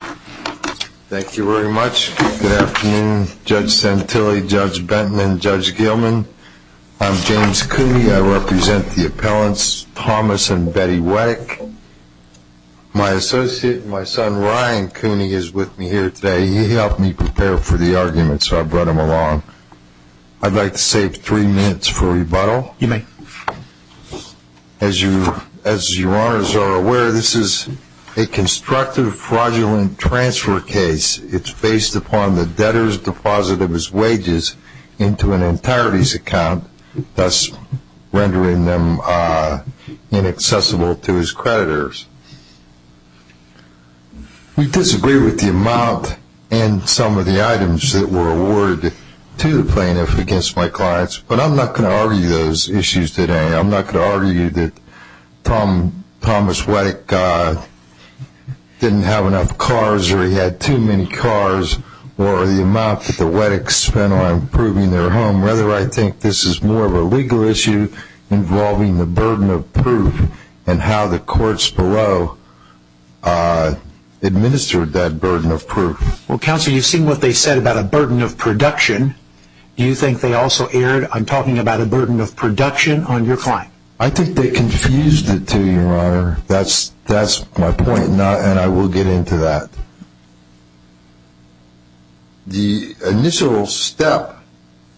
Thank you very much. Good afternoon Judge Santilli, Judge Benton, and Judge Gilman. I'm James Cooney. I represent the appellants Thomas and Betty Wettach. My associate, my son Ryan Cooney, is with me here today. He helped me prepare for the argument, so I brought him along. As your honors are aware, this is a constructive fraudulent transfer case. It's based upon the debtor's deposit of his wages into an entirety's account, thus rendering them inaccessible to his creditors. We disagree with the amount and some of the items that were awarded to the plaintiff against my clients, but I'm not going to argue those issues today. I'm not going to argue that Thomas Wettach didn't have enough cars or he had too many cars or the amount that the Wettachs spent on improving their home. Rather, I think this is more of a legal issue involving the burden of proof and how the courts below administered that burden of proof. Well, Counselor, you've seen what they said about a burden of production. Do you think they also erred on talking about a burden of production on your client? I think they confused it, too, your honor. That's my point, and I will get into that. The initial step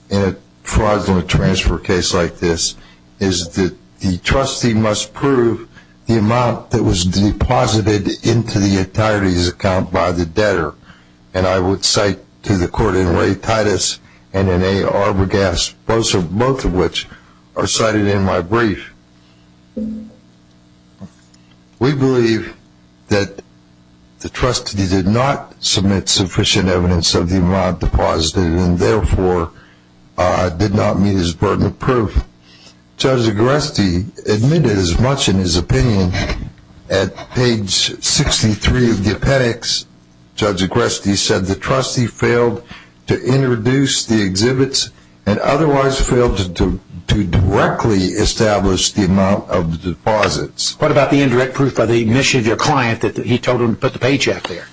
in a fraudulent transfer case like this is that the trustee must prove the amount that was deposited into the entirety's account by the debtor. And I would cite to the court in Ray Titus and in A. Arbogast, both of which are cited in my brief. We believe that the trustee did not submit sufficient evidence of the amount deposited and therefore did not meet his burden of proof. Judge Agreste admitted as much in his opinion at page 63 of the appendix. Judge Agreste said the trustee failed to introduce the exhibits and otherwise failed to directly establish the amount of the deposits. What about the indirect proof by the admission of your client that he told them to put the paycheck there?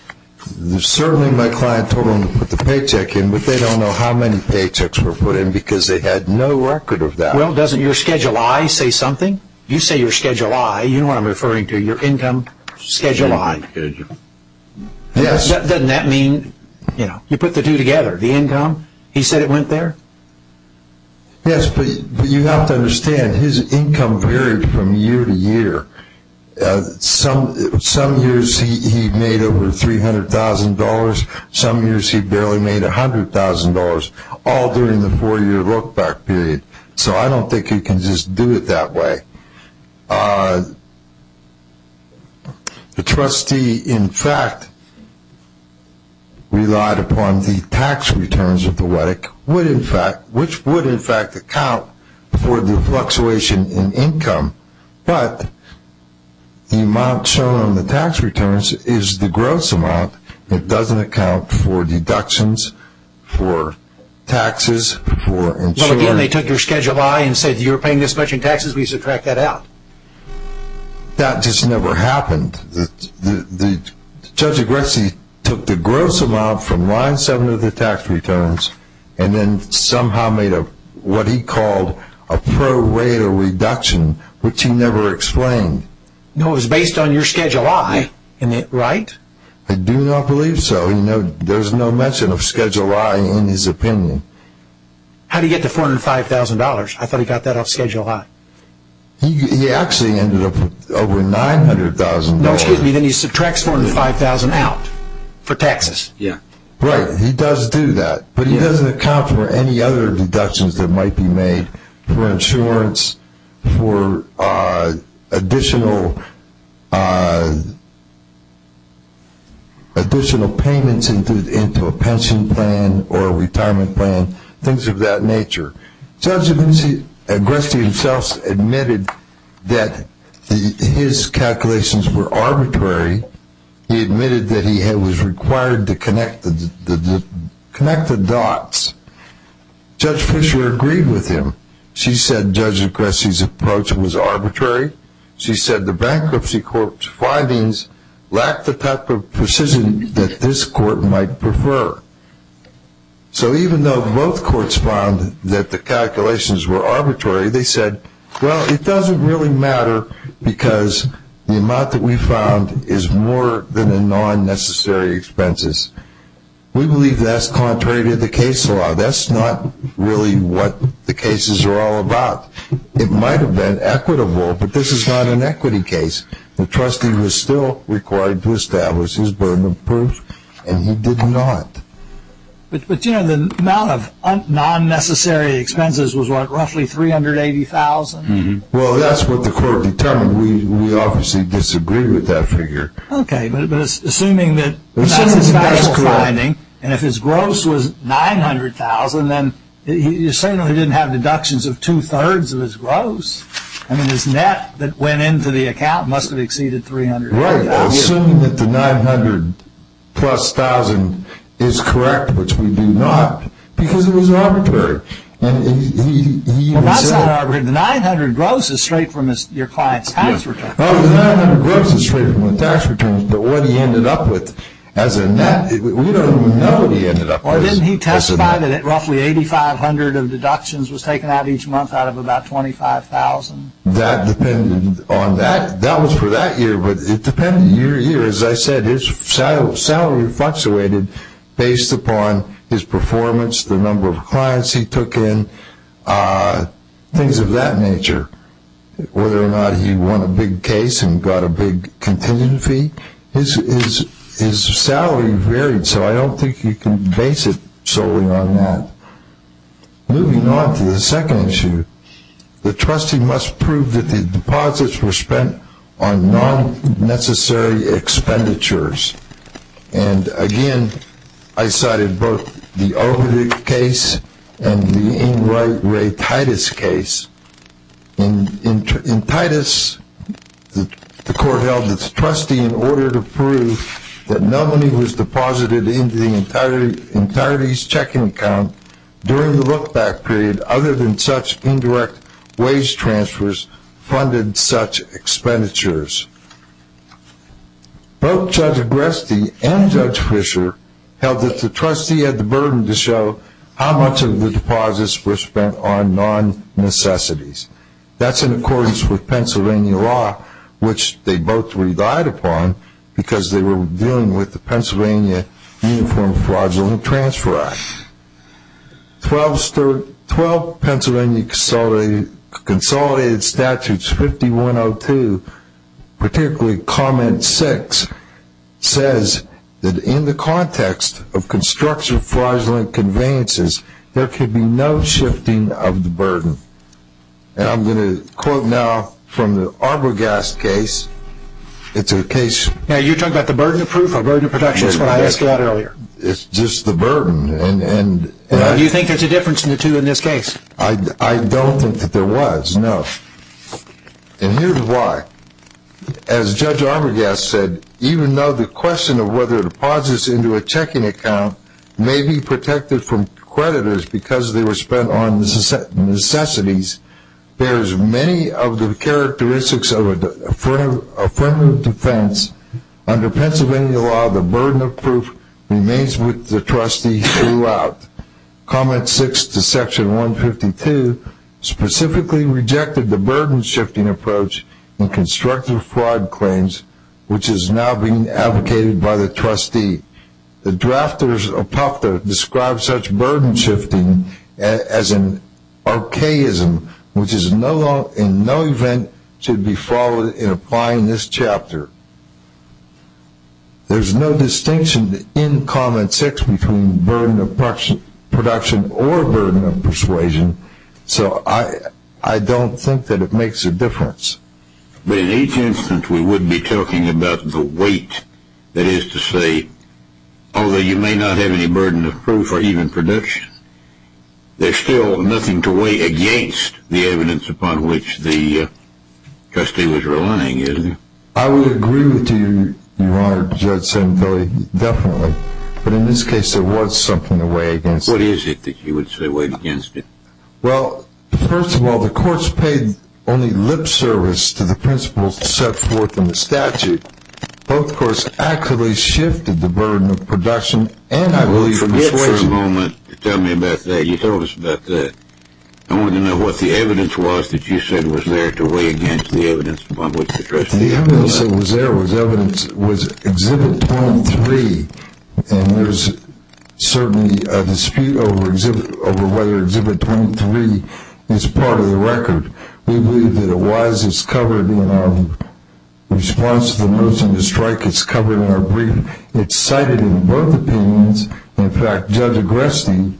Certainly my client told them to put the paycheck in, but they don't know how many paychecks were put in because they had no record of that. Well, doesn't your Schedule I say something? You say your Schedule I, you know what I'm referring to, your income Schedule I. Yes. Doesn't that mean you put the two together? The income, he said it went there? Yes, but you have to understand his income varied from year to year. Some years he made over $300,000. Some years he barely made $100,000, all during the four-year look-back period. So I don't think you can just do it that way. The trustee, in fact, relied upon the tax returns of the WETC, which would in fact account for the fluctuation in income, but the amount shown on the tax returns is the gross amount. It doesn't account for deductions, for taxes, for insurance. Well, again, they took your Schedule I and said, you're paying this much in taxes, we subtract that out. That just never happened. Judge Agressi took the gross amount from Line 7 of the tax returns and then somehow made what he called a pro-rater reduction, which he never explained. No, it was based on your Schedule I, right? I do not believe so. There's no mention of Schedule I in his opinion. How did he get to $405,000? I thought he got that off Schedule I. He actually ended up with over $900,000. No, excuse me, then he subtracts $405,000 out for taxes. Right, he does do that, but he doesn't account for any other deductions that might be made for insurance, for additional payments into a pension plan or a retirement plan, things of that nature. Judge Agressi himself admitted that his calculations were arbitrary. He admitted that he was required to connect the dots. Judge Fisher agreed with him. She said Judge Agressi's approach was arbitrary. She said the Bankruptcy Court's findings lacked the type of precision that this court might prefer. So even though both courts found that the calculations were arbitrary, they said, well, it doesn't really matter because the amount that we found is more than the non-necessary expenses. We believe that's contrary to the case law. That's not really what the cases are all about. It might have been equitable, but this is not an equity case. The trustee was still required to establish his burden of proof, and he did not. But the amount of non-necessary expenses was what, roughly $380,000? Well, that's what the court determined. We obviously disagree with that figure. Okay, but assuming that that's his final finding, and if his gross was $900,000, then you're saying he didn't have deductions of two-thirds of his gross? I mean, his net that went into the account must have exceeded $300,000. Right. Assuming that the $900,000 plus $1,000,000 is correct, which we do not, because it was arbitrary. Well, that's not arbitrary. The $900,000 gross is straight from your client's tax return. Well, the $900,000 gross is straight from the tax return, but what he ended up with as a net, we don't even know what he ended up with. Or didn't he testify that roughly $8,500 of deductions was taken out each month out of about $25,000? That depended on that. That was for that year, but it depended year to year. As I said, his salary fluctuated based upon his performance, the number of clients he took in, things of that nature. Whether or not he won a big case and got a big contingent fee, his salary varied, so I don't think you can base it solely on that. Moving on to the second issue, the trustee must prove that the deposits were spent on non-necessary expenditures. And, again, I cited both the Overdick case and the Ingright Ray Titus case. In Titus, the court held that the trustee, in order to prove that no money was deposited into the entirety's checking account during the look-back period, other than such indirect wage transfers, funded such expenditures. Both Judge Agresti and Judge Fisher held that the trustee had the burden to show how much of the deposits were spent on non-necessities. That's in accordance with Pennsylvania law, which they both relied upon because they were dealing with the Pennsylvania Uniform Fraudulent Transfer Act. Twelve Pennsylvania Consolidated Statutes 5102, particularly Comment 6, says that in the context of construction fraudulent conveyances, there can be no shifting of the burden. And I'm going to quote now from the Arbogast case. Now, you're talking about the burden of proof or burden of protection is what I asked about earlier. It's just the burden. Do you think there's a difference in the two in this case? I don't think that there was, no. And here's why. As Judge Arbogast said, even though the question of whether deposits into a checking account may be protected from creditors because they were spent on necessities, there's many of the characteristics of affirmative defense. Under Pennsylvania law, the burden of proof remains with the trustee throughout. Comment 6 to Section 152 specifically rejected the burden-shifting approach in constructive fraud claims, which is now being advocated by the trustee. The drafters of PUFTA describe such burden-shifting as an archaism, which in no event should be followed in applying this chapter. There's no distinction in Comment 6 between burden of production or burden of persuasion, so I don't think that it makes a difference. But in each instance, we would be talking about the weight, that is to say, although you may not have any burden of proof or even production, there's still nothing to weigh against the evidence upon which the trustee was relying, isn't there? I would agree with you, Your Honor, Judge Sembille, definitely. But in this case, there was something to weigh against. What is it that you would say weighed against it? Well, first of all, the courts paid only lip service to the principles set forth in the statute. Both courts actively shifted the burden of production and persuasion. Just wait for a moment to tell me about that. You told us about that. I wanted to know what the evidence was that you said was there to weigh against the evidence upon which the trustee was relying. The evidence that was there was Exhibit 23, and there's certainly a dispute over whether Exhibit 23 is part of the record. We believe that it was. It's covered in our response to the motion to strike. It's covered in our brief. It's cited in both opinions. In fact, Judge Agreste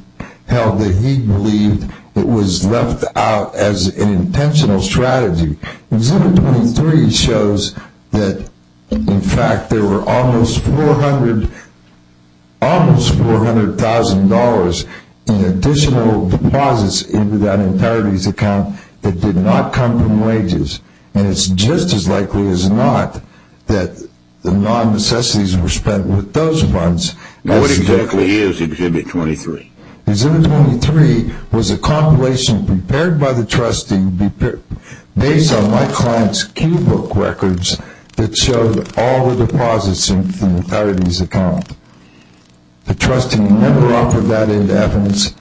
held that he believed it was left out as an intentional strategy. Exhibit 23 shows that, in fact, there were almost $400,000 in additional deposits into that entirety's account that did not come from wages. And it's just as likely as not that the non-necessities were spent with those funds. Now, what exactly is Exhibit 23? Exhibit 23 was a compilation prepared by the trustee based on my client's cue book records that showed all the deposits into the entirety's account. The trustee never offered that into evidence.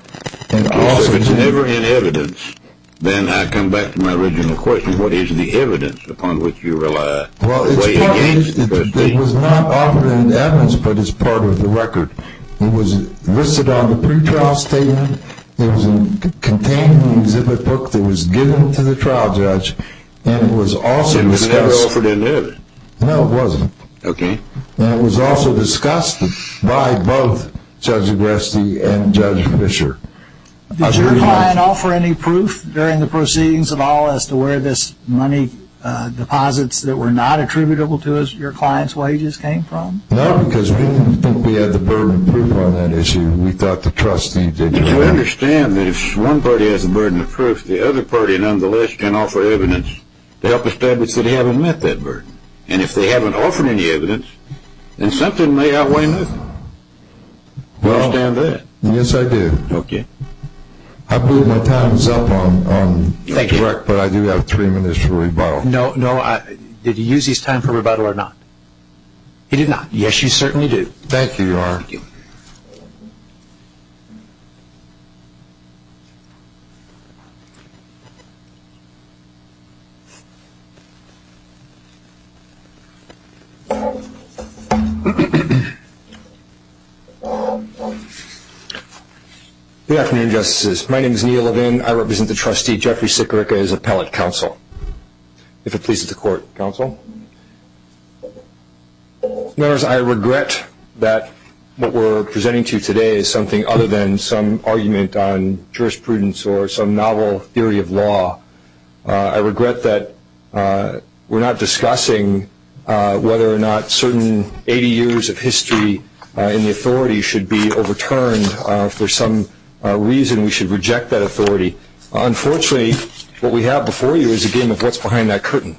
If it's never in evidence, then I come back to my original question. What is the evidence upon which you rely to weigh against the trustee? It was not offered in evidence, but it's part of the record. It was listed on the pretrial statement. It was contained in the exhibit book that was given to the trial judge. And it was also discussed. It was never offered in evidence. No, it wasn't. Okay. And it was also discussed by both Judge Agresti and Judge Fischer. Did your client offer any proof during the proceedings at all as to where this money deposits that were not attributable to your client's wages came from? No, because we didn't think we had the burden of proof on that issue. We thought the trustee did. You understand that if one party has a burden of proof, the other party, nonetheless, can offer evidence to help establish that they haven't met that burden. And if they haven't offered any evidence, then something may outweigh nothing. Do you understand that? Yes, I do. Okay. I believe my time is up, but I do have three minutes for rebuttal. No, did he use his time for rebuttal or not? He did not. Yes, you certainly do. Thank you, Your Honor. Thank you. Good afternoon, Justices. My name is Neil Levin. I represent the trustee, Jeffrey Sikorica, as appellate counsel, if it pleases the Court. Counsel? Members, I regret that what we're presenting to you today is something other than some argument on jurisprudence or some novel theory of law. I regret that we're not discussing whether or not certain 80 years of history in the authority should be overturned. If there's some reason we should reject that authority. Unfortunately, what we have before you is a game of what's behind that curtain.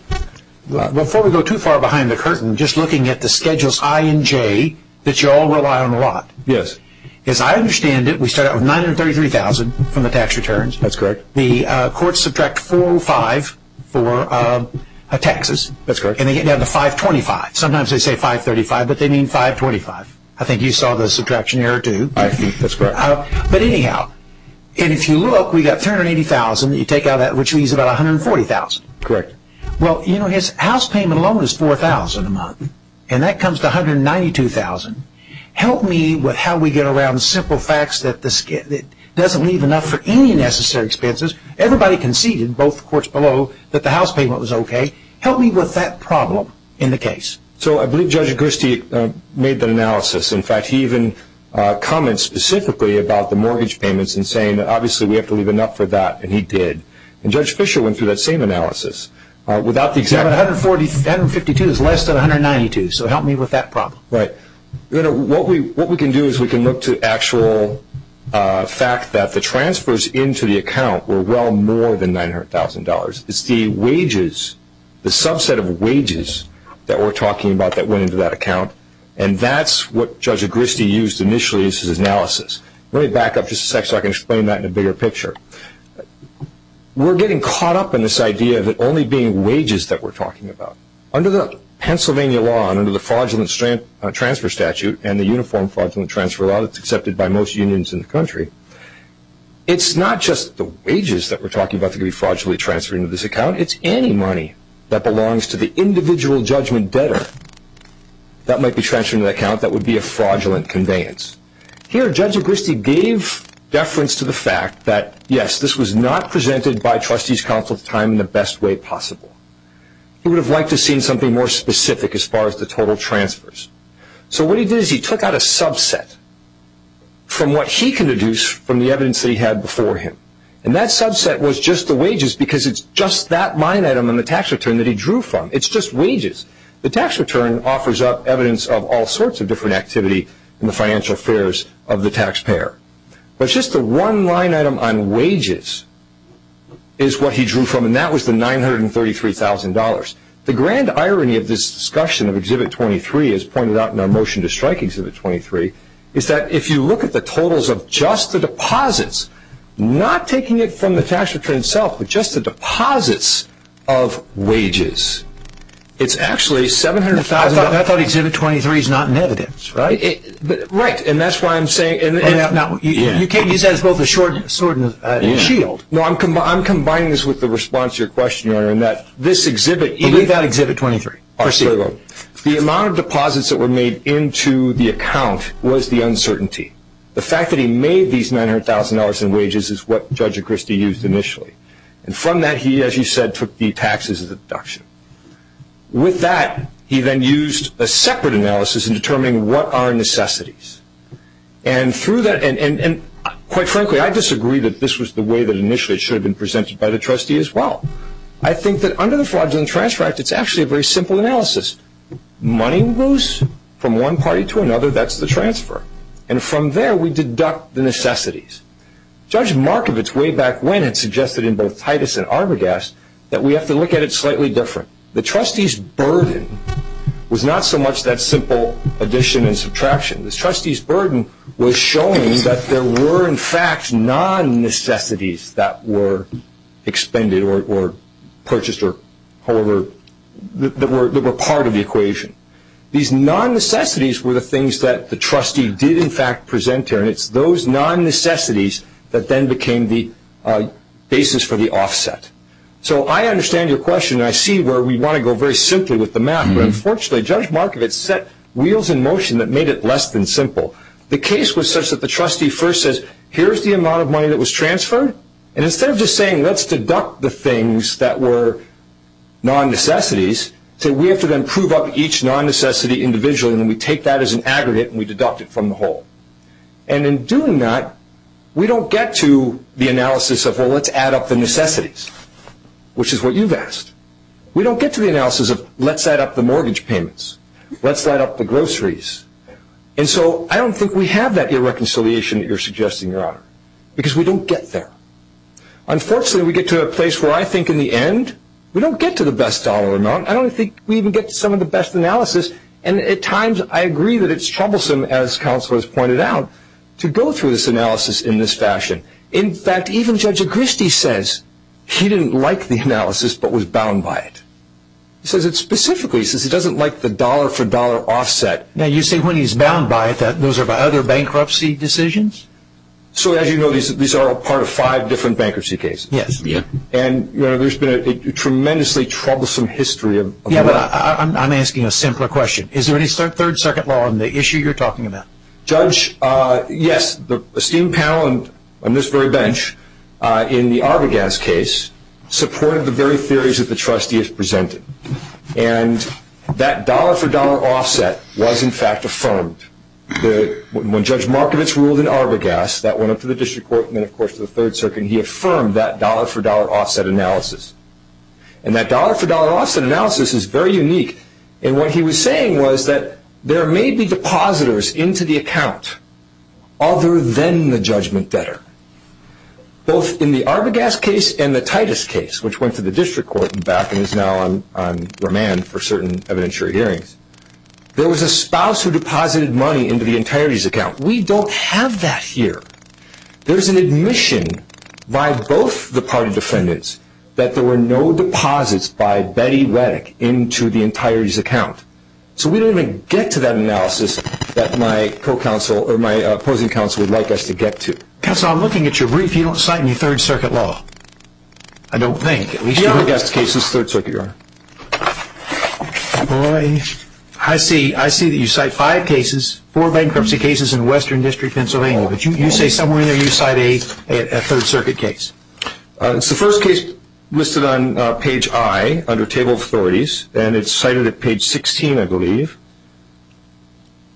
Before we go too far behind the curtain, just looking at the schedules I and J that you all rely on a lot. Yes. As I understand it, we start out with $933,000 from the tax returns. That's correct. The courts subtract $405,000 for taxes. That's correct. And they get down to $525,000. Sometimes they say $535,000, but they mean $525,000. I think you saw the subtraction error too. That's correct. But anyhow, if you look, we've got $380,000 that you take out of that, which leaves about $140,000. Correct. Well, you know, his house payment alone is $4,000 a month, and that comes to $192,000. Help me with how we get around the simple facts that it doesn't leave enough for any necessary expenses. Everybody conceded, both the courts below, that the house payment was okay. Help me with that problem in the case. So I believe Judge Gersti made that analysis. In fact, he even comments specifically about the mortgage payments and saying that obviously we have to leave enough for that, and he did. And Judge Fischer went through that same analysis. $142,000 is less than $192,000, so help me with that problem. Right. You know, what we can do is we can look to actual fact that the transfers into the account were well more than $900,000. It's the wages, the subset of wages that we're talking about that went into that account, and that's what Judge Gersti used initially as his analysis. Let me back up just a sec so I can explain that in a bigger picture. We're getting caught up in this idea of it only being wages that we're talking about. Under the Pennsylvania law and under the fraudulent transfer statute and the uniform fraudulent transfer law that's accepted by most unions in the country, it's not just the wages that we're talking about that could be fraudulently transferred into this account. It's any money that belongs to the individual judgment debtor that might be transferred into the account that would be a fraudulent conveyance. Here, Judge Gersti gave deference to the fact that, yes, this was not presented by trustees' counsel at the time in the best way possible. He would have liked to have seen something more specific as far as the total transfers. So what he did is he took out a subset from what he can deduce from the evidence that he had before him, and that subset was just the wages because it's just that line item on the tax return that he drew from. It's just wages. The tax return offers up evidence of all sorts of different activity in the financial affairs of the taxpayer, but just the one line item on wages is what he drew from, and that was the $933,000. The grand irony of this discussion of Exhibit 23, as pointed out in our motion to strike Exhibit 23, is that if you look at the totals of just the deposits, not taking it from the tax return itself, but just the deposits of wages, it's actually $700,000. I thought Exhibit 23 is not in evidence, right? Right, and that's why I'm saying you can't use that as both a sword and a shield. No, I'm combining this with the response to your question, Your Honor, in that this exhibit, Believe that Exhibit 23, proceed. The amount of deposits that were made into the account was the uncertainty. The fact that he made these $900,000 in wages is what Judge Echristie used initially, and from that he, as you said, took the taxes of the deduction. With that, he then used a separate analysis in determining what are necessities, and quite frankly, I disagree that this was the way that initially it should have been presented by the trustee as well. I think that under the fraudulent transfer act, it's actually a very simple analysis. Money moves from one party to another. That's the transfer, and from there we deduct the necessities. Judge Markovitz, way back when, had suggested in both Titus and Arbogast that we have to look at it slightly different. The trustee's burden was not so much that simple addition and subtraction. The trustee's burden was showing that there were, in fact, non-necessities that were expended or purchased or however, that were part of the equation. These non-necessities were the things that the trustee did, in fact, present there, and it's those non-necessities that then became the basis for the offset. So I understand your question, and I see where we want to go very simply with the math, but unfortunately, Judge Markovitz set wheels in motion that made it less than simple. The case was such that the trustee first says, here's the amount of money that was transferred, and instead of just saying, let's deduct the things that were non-necessities, we have to then prove up each non-necessity individually, and then we take that as an aggregate and we deduct it from the whole. And in doing that, we don't get to the analysis of, well, let's add up the necessities, which is what you've asked. We don't get to the analysis of, let's add up the mortgage payments, let's add up the groceries. And so I don't think we have that irreconciliation that you're suggesting, Your Honor, because we don't get there. Unfortunately, we get to a place where I think, in the end, we don't get to the best dollar amount. I don't think we even get to some of the best analysis, and at times I agree that it's troublesome, as counsel has pointed out, to go through this analysis in this fashion. In fact, even Judge Agristi says he didn't like the analysis but was bound by it. He says it specifically, he says he doesn't like the dollar-for-dollar offset. Now, you say when he's bound by it that those are by other bankruptcy decisions? So as you know, these are all part of five different bankruptcy cases. Yes. And, Your Honor, there's been a tremendously troublesome history of that. Yes, but I'm asking a simpler question. Is there any third circuit law in the issue you're talking about? Judge, yes, the esteemed panel on this very bench in the Arbogast case supported the very theories that the trustee has presented. And that dollar-for-dollar offset was, in fact, affirmed. When Judge Markovitz ruled in Arbogast, that went up to the district court and then, of course, to the third circuit, he affirmed that dollar-for-dollar offset analysis. And that dollar-for-dollar offset analysis is very unique. And what he was saying was that there may be depositors into the account other than the judgment debtor. Both in the Arbogast case and the Titus case, which went to the district court and back and is now on remand for certain evidentiary hearings, there was a spouse who deposited money into the entirety's account. We don't have that here. There's an admission by both the party defendants that there were no deposits by Betty Reddick into the entirety's account. So we don't even get to that analysis that my opposing counsel would like us to get to. Counsel, I'm looking at your brief. You don't cite any third circuit law. I don't think. Arbogast case is third circuit, Your Honor. I see that you cite five cases, four bankruptcy cases in Western District, Pennsylvania. No, you say somewhere in there you cite a third circuit case. It's the first case listed on page I under Table of Authorities, and it's cited at page 16, I believe.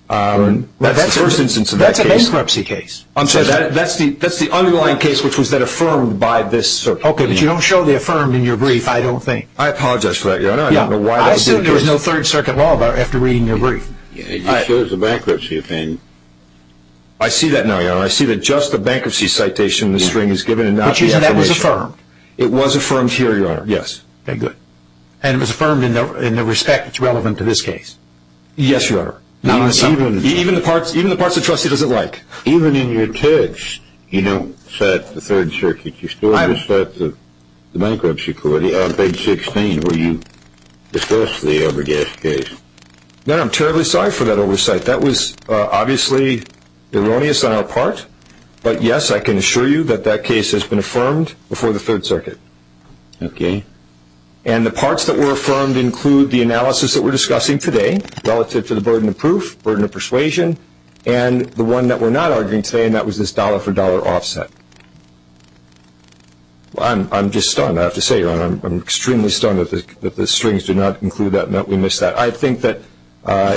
That's the first instance of that case. That's a bankruptcy case. I'm sorry, that's the underlying case, which was that affirmed by this circuit. Okay, but you don't show the affirmed in your brief, I don't think. I apologize for that, Your Honor. I said there was no third circuit law after reading your brief. It shows a bankruptcy thing. I see that now, Your Honor. I see that just the bankruptcy citation in the string is given and not the affirmation. But you said that was affirmed. It was affirmed here, Your Honor, yes. Okay, good. And it was affirmed in the respect that's relevant to this case. Yes, Your Honor. Even the parts the trustee doesn't like. Even in your text, you don't cite the third circuit. You still cite the bankruptcy court on page 16 where you discuss the Arbogast case. No, I'm terribly sorry for that oversight. That was obviously erroneous on our part. But, yes, I can assure you that that case has been affirmed before the third circuit. Okay. And the parts that were affirmed include the analysis that we're discussing today relative to the burden of proof, burden of persuasion, and the one that we're not arguing today, and that was this dollar-for-dollar offset. I'm just stunned, I have to say, Your Honor. I'm extremely stunned that the strings do not include that and that we missed that. But I think that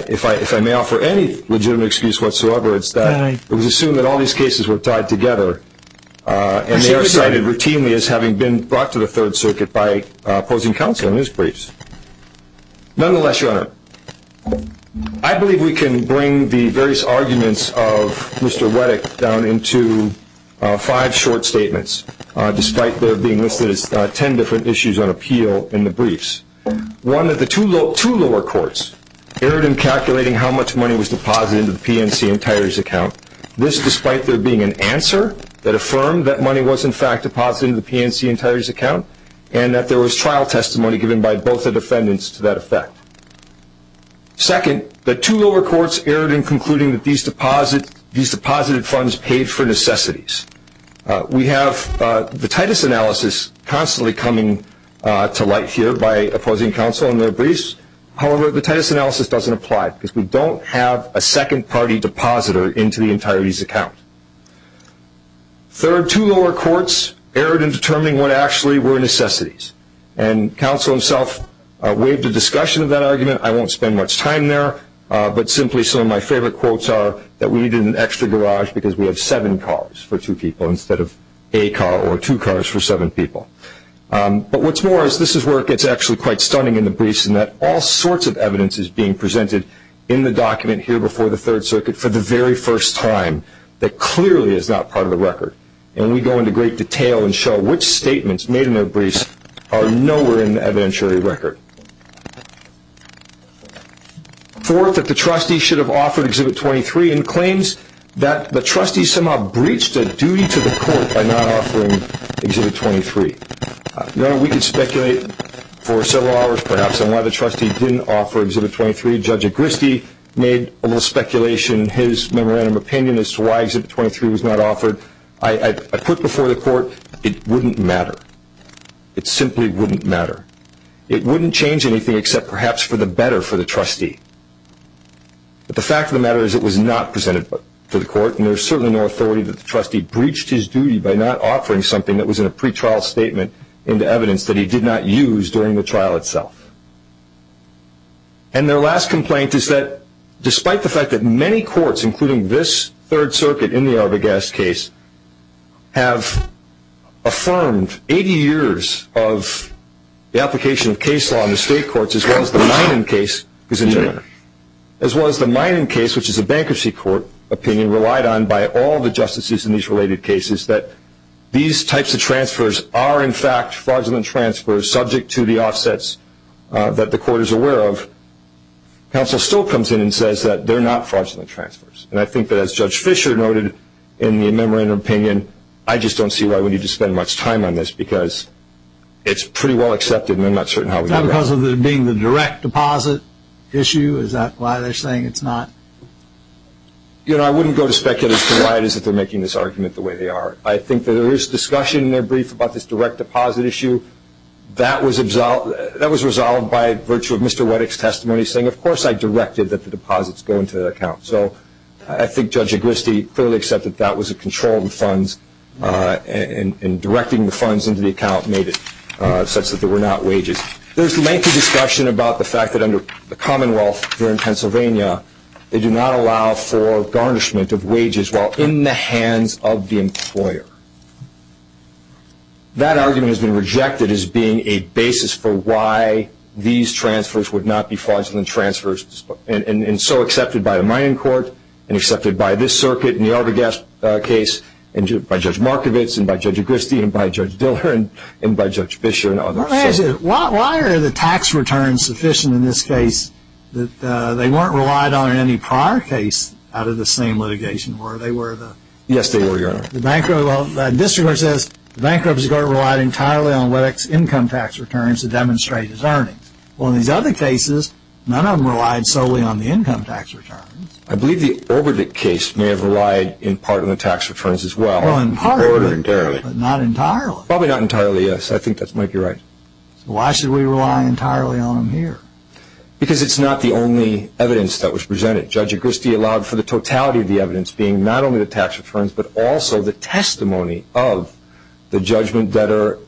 if I may offer any legitimate excuse whatsoever, it's that it was assumed that all these cases were tied together and they are cited routinely as having been brought to the third circuit by opposing counsel in his briefs. Nonetheless, Your Honor, I believe we can bring the various arguments of Mr. Wettick down into five short statements, despite there being listed as ten different issues on appeal in the briefs. One, that the two lower courts erred in calculating how much money was deposited into the PNC and Tyrie's account, this despite there being an answer that affirmed that money was, in fact, deposited into the PNC and Tyrie's account, and that there was trial testimony given by both the defendants to that effect. Second, that two lower courts erred in concluding that these deposited funds paid for necessities. We have the Titus analysis constantly coming to light here by opposing counsel in their briefs. However, the Titus analysis doesn't apply because we don't have a second-party depositor into the entire Tyrie's account. Third, two lower courts erred in determining what actually were necessities, and counsel himself waived a discussion of that argument. I won't spend much time there, but simply some of my favorite quotes are that we needed an extra garage because we have seven cars for two people instead of a car or two cars for seven people. But what's more is this is work that's actually quite stunning in the briefs in that all sorts of evidence is being presented in the document here before the Third Circuit for the very first time that clearly is not part of the record. And we go into great detail and show which statements made in their briefs are nowhere in the evidentiary record. Fourth, that the trustee should have offered Exhibit 23 and claims that the trustee somehow breached a duty to the court by not offering Exhibit 23. Now, we could speculate for several hours perhaps on why the trustee didn't offer Exhibit 23. Judge Agristi made a little speculation in his memorandum of opinion as to why Exhibit 23 was not offered. I put before the court it wouldn't matter. It simply wouldn't matter. It wouldn't change anything except perhaps for the better for the trustee. But the fact of the matter is it was not presented to the court and there's certainly no authority that the trustee breached his duty by not offering something that was in a pretrial statement into evidence that he did not use during the trial itself. And their last complaint is that despite the fact that many courts, including this Third Circuit in the Arvogast case, have affirmed 80 years of the application of case law in the state courts, as well as the Minin case, which is a bankruptcy court opinion, relied on by all the justices in these related cases, that these types of transfers are in fact fraudulent transfers subject to the offsets that the court is aware of, counsel still comes in and says that they're not fraudulent transfers. And I think that as Judge Fischer noted in the memorandum of opinion, I just don't see why we need to spend much time on this because it's pretty well accepted and I'm not certain how we can go about it. Is that because of it being the direct deposit issue? Is that why they're saying it's not? You know, I wouldn't go to speculate as to why it is that they're making this argument the way they are. I think that there is discussion in their brief about this direct deposit issue. That was resolved by virtue of Mr. Weddick's testimony saying, of course I directed that the deposits go into the account. So I think Judge Agristi clearly accepted that was a control of the funds and directing the funds into the account made it such that there were not wages. There's lengthy discussion about the fact that under the Commonwealth here in Pennsylvania, they do not allow for garnishment of wages while in the hands of the employer. That argument has been rejected as being a basis for why these transfers would not be fraudulent transfers and so accepted by the mining court and accepted by this circuit and the Arbogast case and by Judge Markovits and by Judge Agristi and by Judge Diller and by Judge Fischer and others. Why are the tax returns sufficient in this case that they weren't relied on in any prior case out of the same litigation? Yes, they were, Your Honor. The district court says the bankruptcy court relied entirely on Weddick's income tax returns to demonstrate his earnings. Well, in these other cases, none of them relied solely on the income tax returns. I believe the Orbodick case may have relied in part on the tax returns as well. Well, in part, but not entirely. Probably not entirely, yes. I think that might be right. So why should we rely entirely on them here? Because it's not the only evidence that was presented. Judge Agristi allowed for the totality of the evidence being not only the tax returns but also the testimony of the judgment debtor,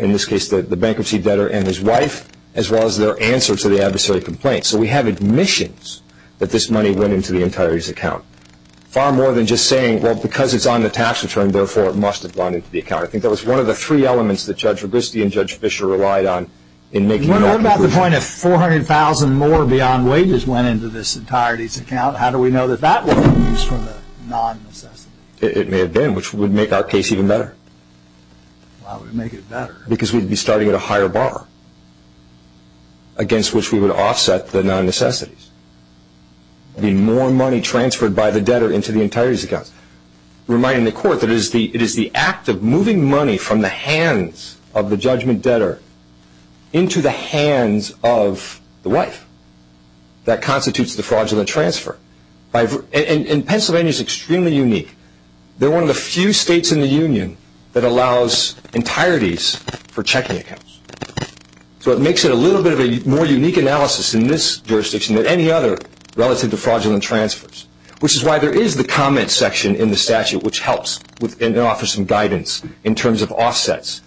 in this case the bankruptcy debtor and his wife, as well as their answer to the adversary complaint. So we have admissions that this money went into the entirety's account. Far more than just saying, well, because it's on the tax return, therefore, it must have gone into the account. I think that was one of the three elements that Judge Agristi and Judge Fischer relied on in making no conclusions. To the point of 400,000 more beyond wages went into this entirety's account, how do we know that that wasn't used for the non-necessities? It may have been, which would make our case even better. Why would it make it better? Because we'd be starting at a higher bar against which we would offset the non-necessities. There would be more money transferred by the debtor into the entirety's account. Reminding the Court that it is the act of moving money from the hands of the judgment debtor into the hands of the wife. That constitutes the fraudulent transfer. And Pennsylvania is extremely unique. They're one of the few states in the Union that allows entireties for checking accounts. So it makes it a little bit of a more unique analysis in this jurisdiction than any other relative to fraudulent transfers, which is why there is the comment section in the statute which helps and offers some guidance in terms of offsets.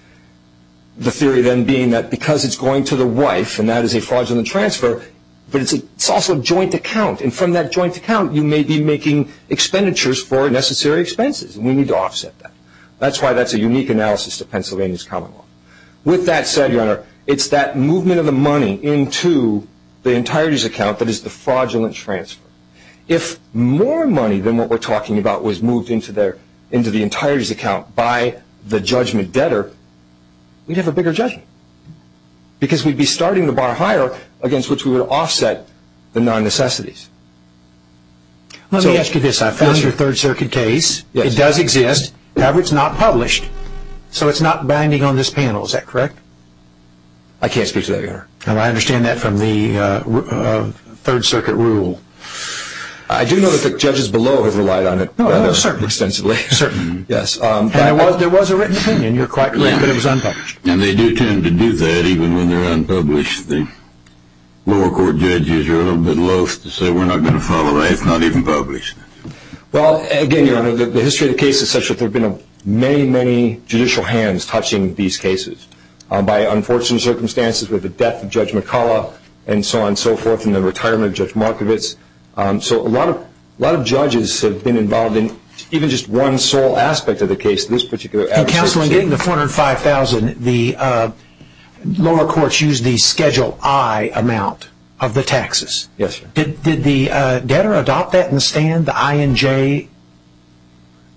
The theory then being that because it's going to the wife, and that is a fraudulent transfer, but it's also a joint account. And from that joint account, you may be making expenditures for necessary expenses, and we need to offset that. That's why that's a unique analysis to Pennsylvania's common law. With that said, Your Honor, it's that movement of the money into the entirety's account that is the fraudulent transfer. by the judgment debtor, we'd have a bigger judgment because we'd be starting the bar higher against which we would offset the non-necessities. Let me ask you this. I found your Third Circuit case. It does exist. However, it's not published, so it's not binding on this panel. Is that correct? I can't speak to that, Your Honor. I understand that from the Third Circuit rule. I do know that the judges below have relied on it rather extensively. Certainly, yes. There was a written opinion. You're quite correct that it was unpublished. And they do tend to do that even when they're unpublished. The lower court judges are a little bit loath to say, we're not going to follow that if it's not even published. Well, again, Your Honor, the history of the case is such that there have been many, many judicial hands touching these cases. By unfortunate circumstances with the death of Judge McCullough and so on and so forth and the retirement of Judge Markovitz. So a lot of judges have been involved in even just one sole aspect of the case, this particular adversary case. In counseling getting the $405,000, the lower courts used the Schedule I amount of the taxes. Yes, sir. Did the debtor adopt that in the stand, the I and J?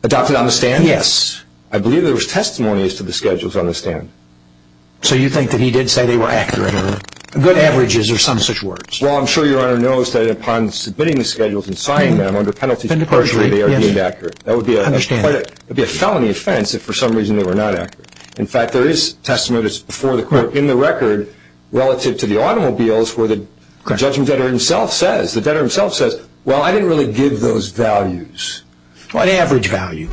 Adopted on the stand? Yes. I believe there was testimonies to the Schedules on the stand. So you think that he did say they were accurate or good averages or some such words? Well, I'm sure Your Honor knows that upon submitting the Schedules and signing them under penalty, partially they are deemed accurate. That would be a felony offense if for some reason they were not accurate. In fact, there is testimony that's before the court in the record relative to the automobiles where the judgment debtor himself says, well, I didn't really give those values. Well, an average value,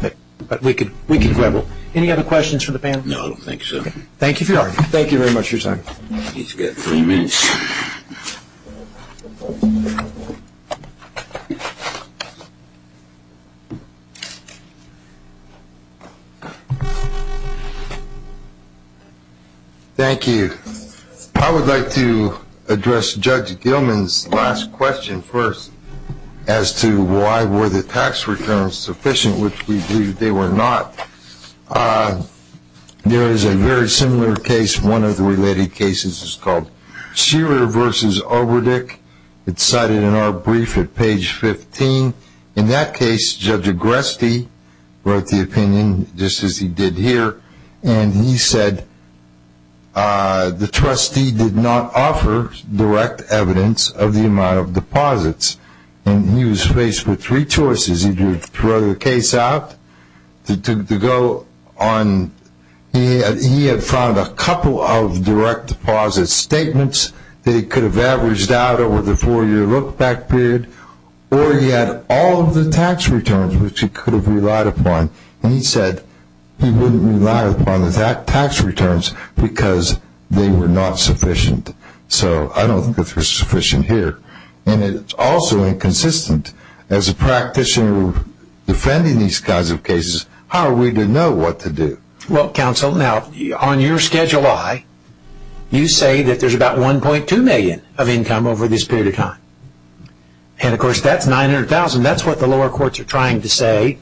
but we can quibble. Any other questions for the panel? No, I don't think so. Thank you for your time. Thank you very much for your time. He's got three minutes. Thank you. I would like to address Judge Gilman's last question first as to why were the tax returns sufficient, which we believe they were not. There is a very similar case. One of the related cases is called Shearer v. Overdick. It's cited in our brief at page 15. In that case, Judge Agreste wrote the opinion just as he did here, and he said the trustee did not offer direct evidence of the amount of deposits, and he was faced with three choices. He could throw the case out. He had found a couple of direct deposit statements that he could have averaged out over the four-year look-back period, or he had all of the tax returns which he could have relied upon, and he said he wouldn't rely upon the tax returns because they were not sufficient. So I don't think it's sufficient here. And it's also inconsistent. As a practitioner defending these kinds of cases, how are we to know what to do? Well, counsel, now on your Schedule I, you say that there's about $1.2 million of income over this period of time. And, of course, that's $900,000. That's what the lower courts are trying to say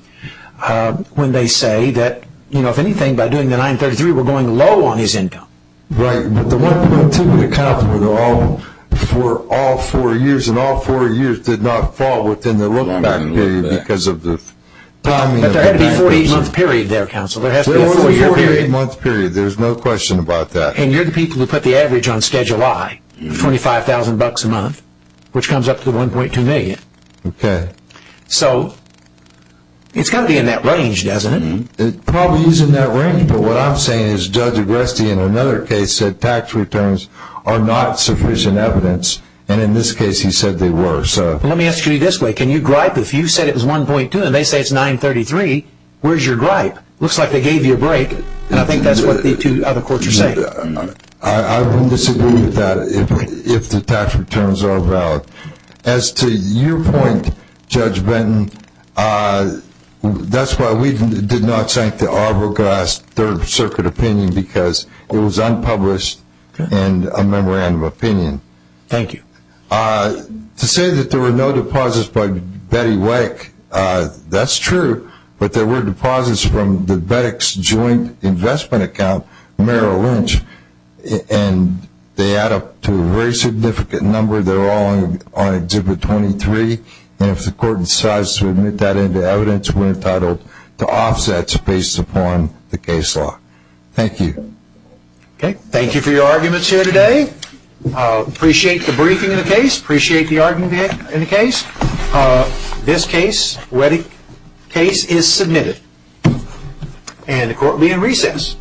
when they say that, you know, if anything, by doing the 933, we're going low on his income. Right. But the $1.2 million would account for all four years, and all four years did not fall within the look-back period because of this. But there had to be a 48-month period there, counsel. There has to be a four-year period. There was a 48-month period. There's no question about that. And you're the people who put the average on Schedule I of $25,000 a month, which comes up to the $1.2 million. Okay. So it's got to be in that range, doesn't it? It probably is in that range. But what I'm saying is Judge Agresti, in another case, said tax returns are not sufficient evidence, and in this case he said they were. Let me ask you this way. Can you gripe if you said it was $1.2 million and they say it's $933,000, where's your gripe? It looks like they gave you a break, and I think that's what the two other courts are saying. I wouldn't disagree with that if the tax returns are valid. As to your point, Judge Benton, that's why we did not cite the Arbogast Third Circuit opinion, because it was unpublished and a memorandum of opinion. Thank you. To say that there were no deposits by Betty Wittig, that's true, but there were deposits from the Wittig's joint investment account, Merrill Lynch, and they add up to a very significant number. They're all on Exhibit 23, and if the court decides to admit that into evidence, we're entitled to offsets based upon the case law. Thank you. Thank you for your arguments here today. Appreciate the briefing in the case. Appreciate the argument in the case. This case, Wittig case, is submitted, and the court will be in recess.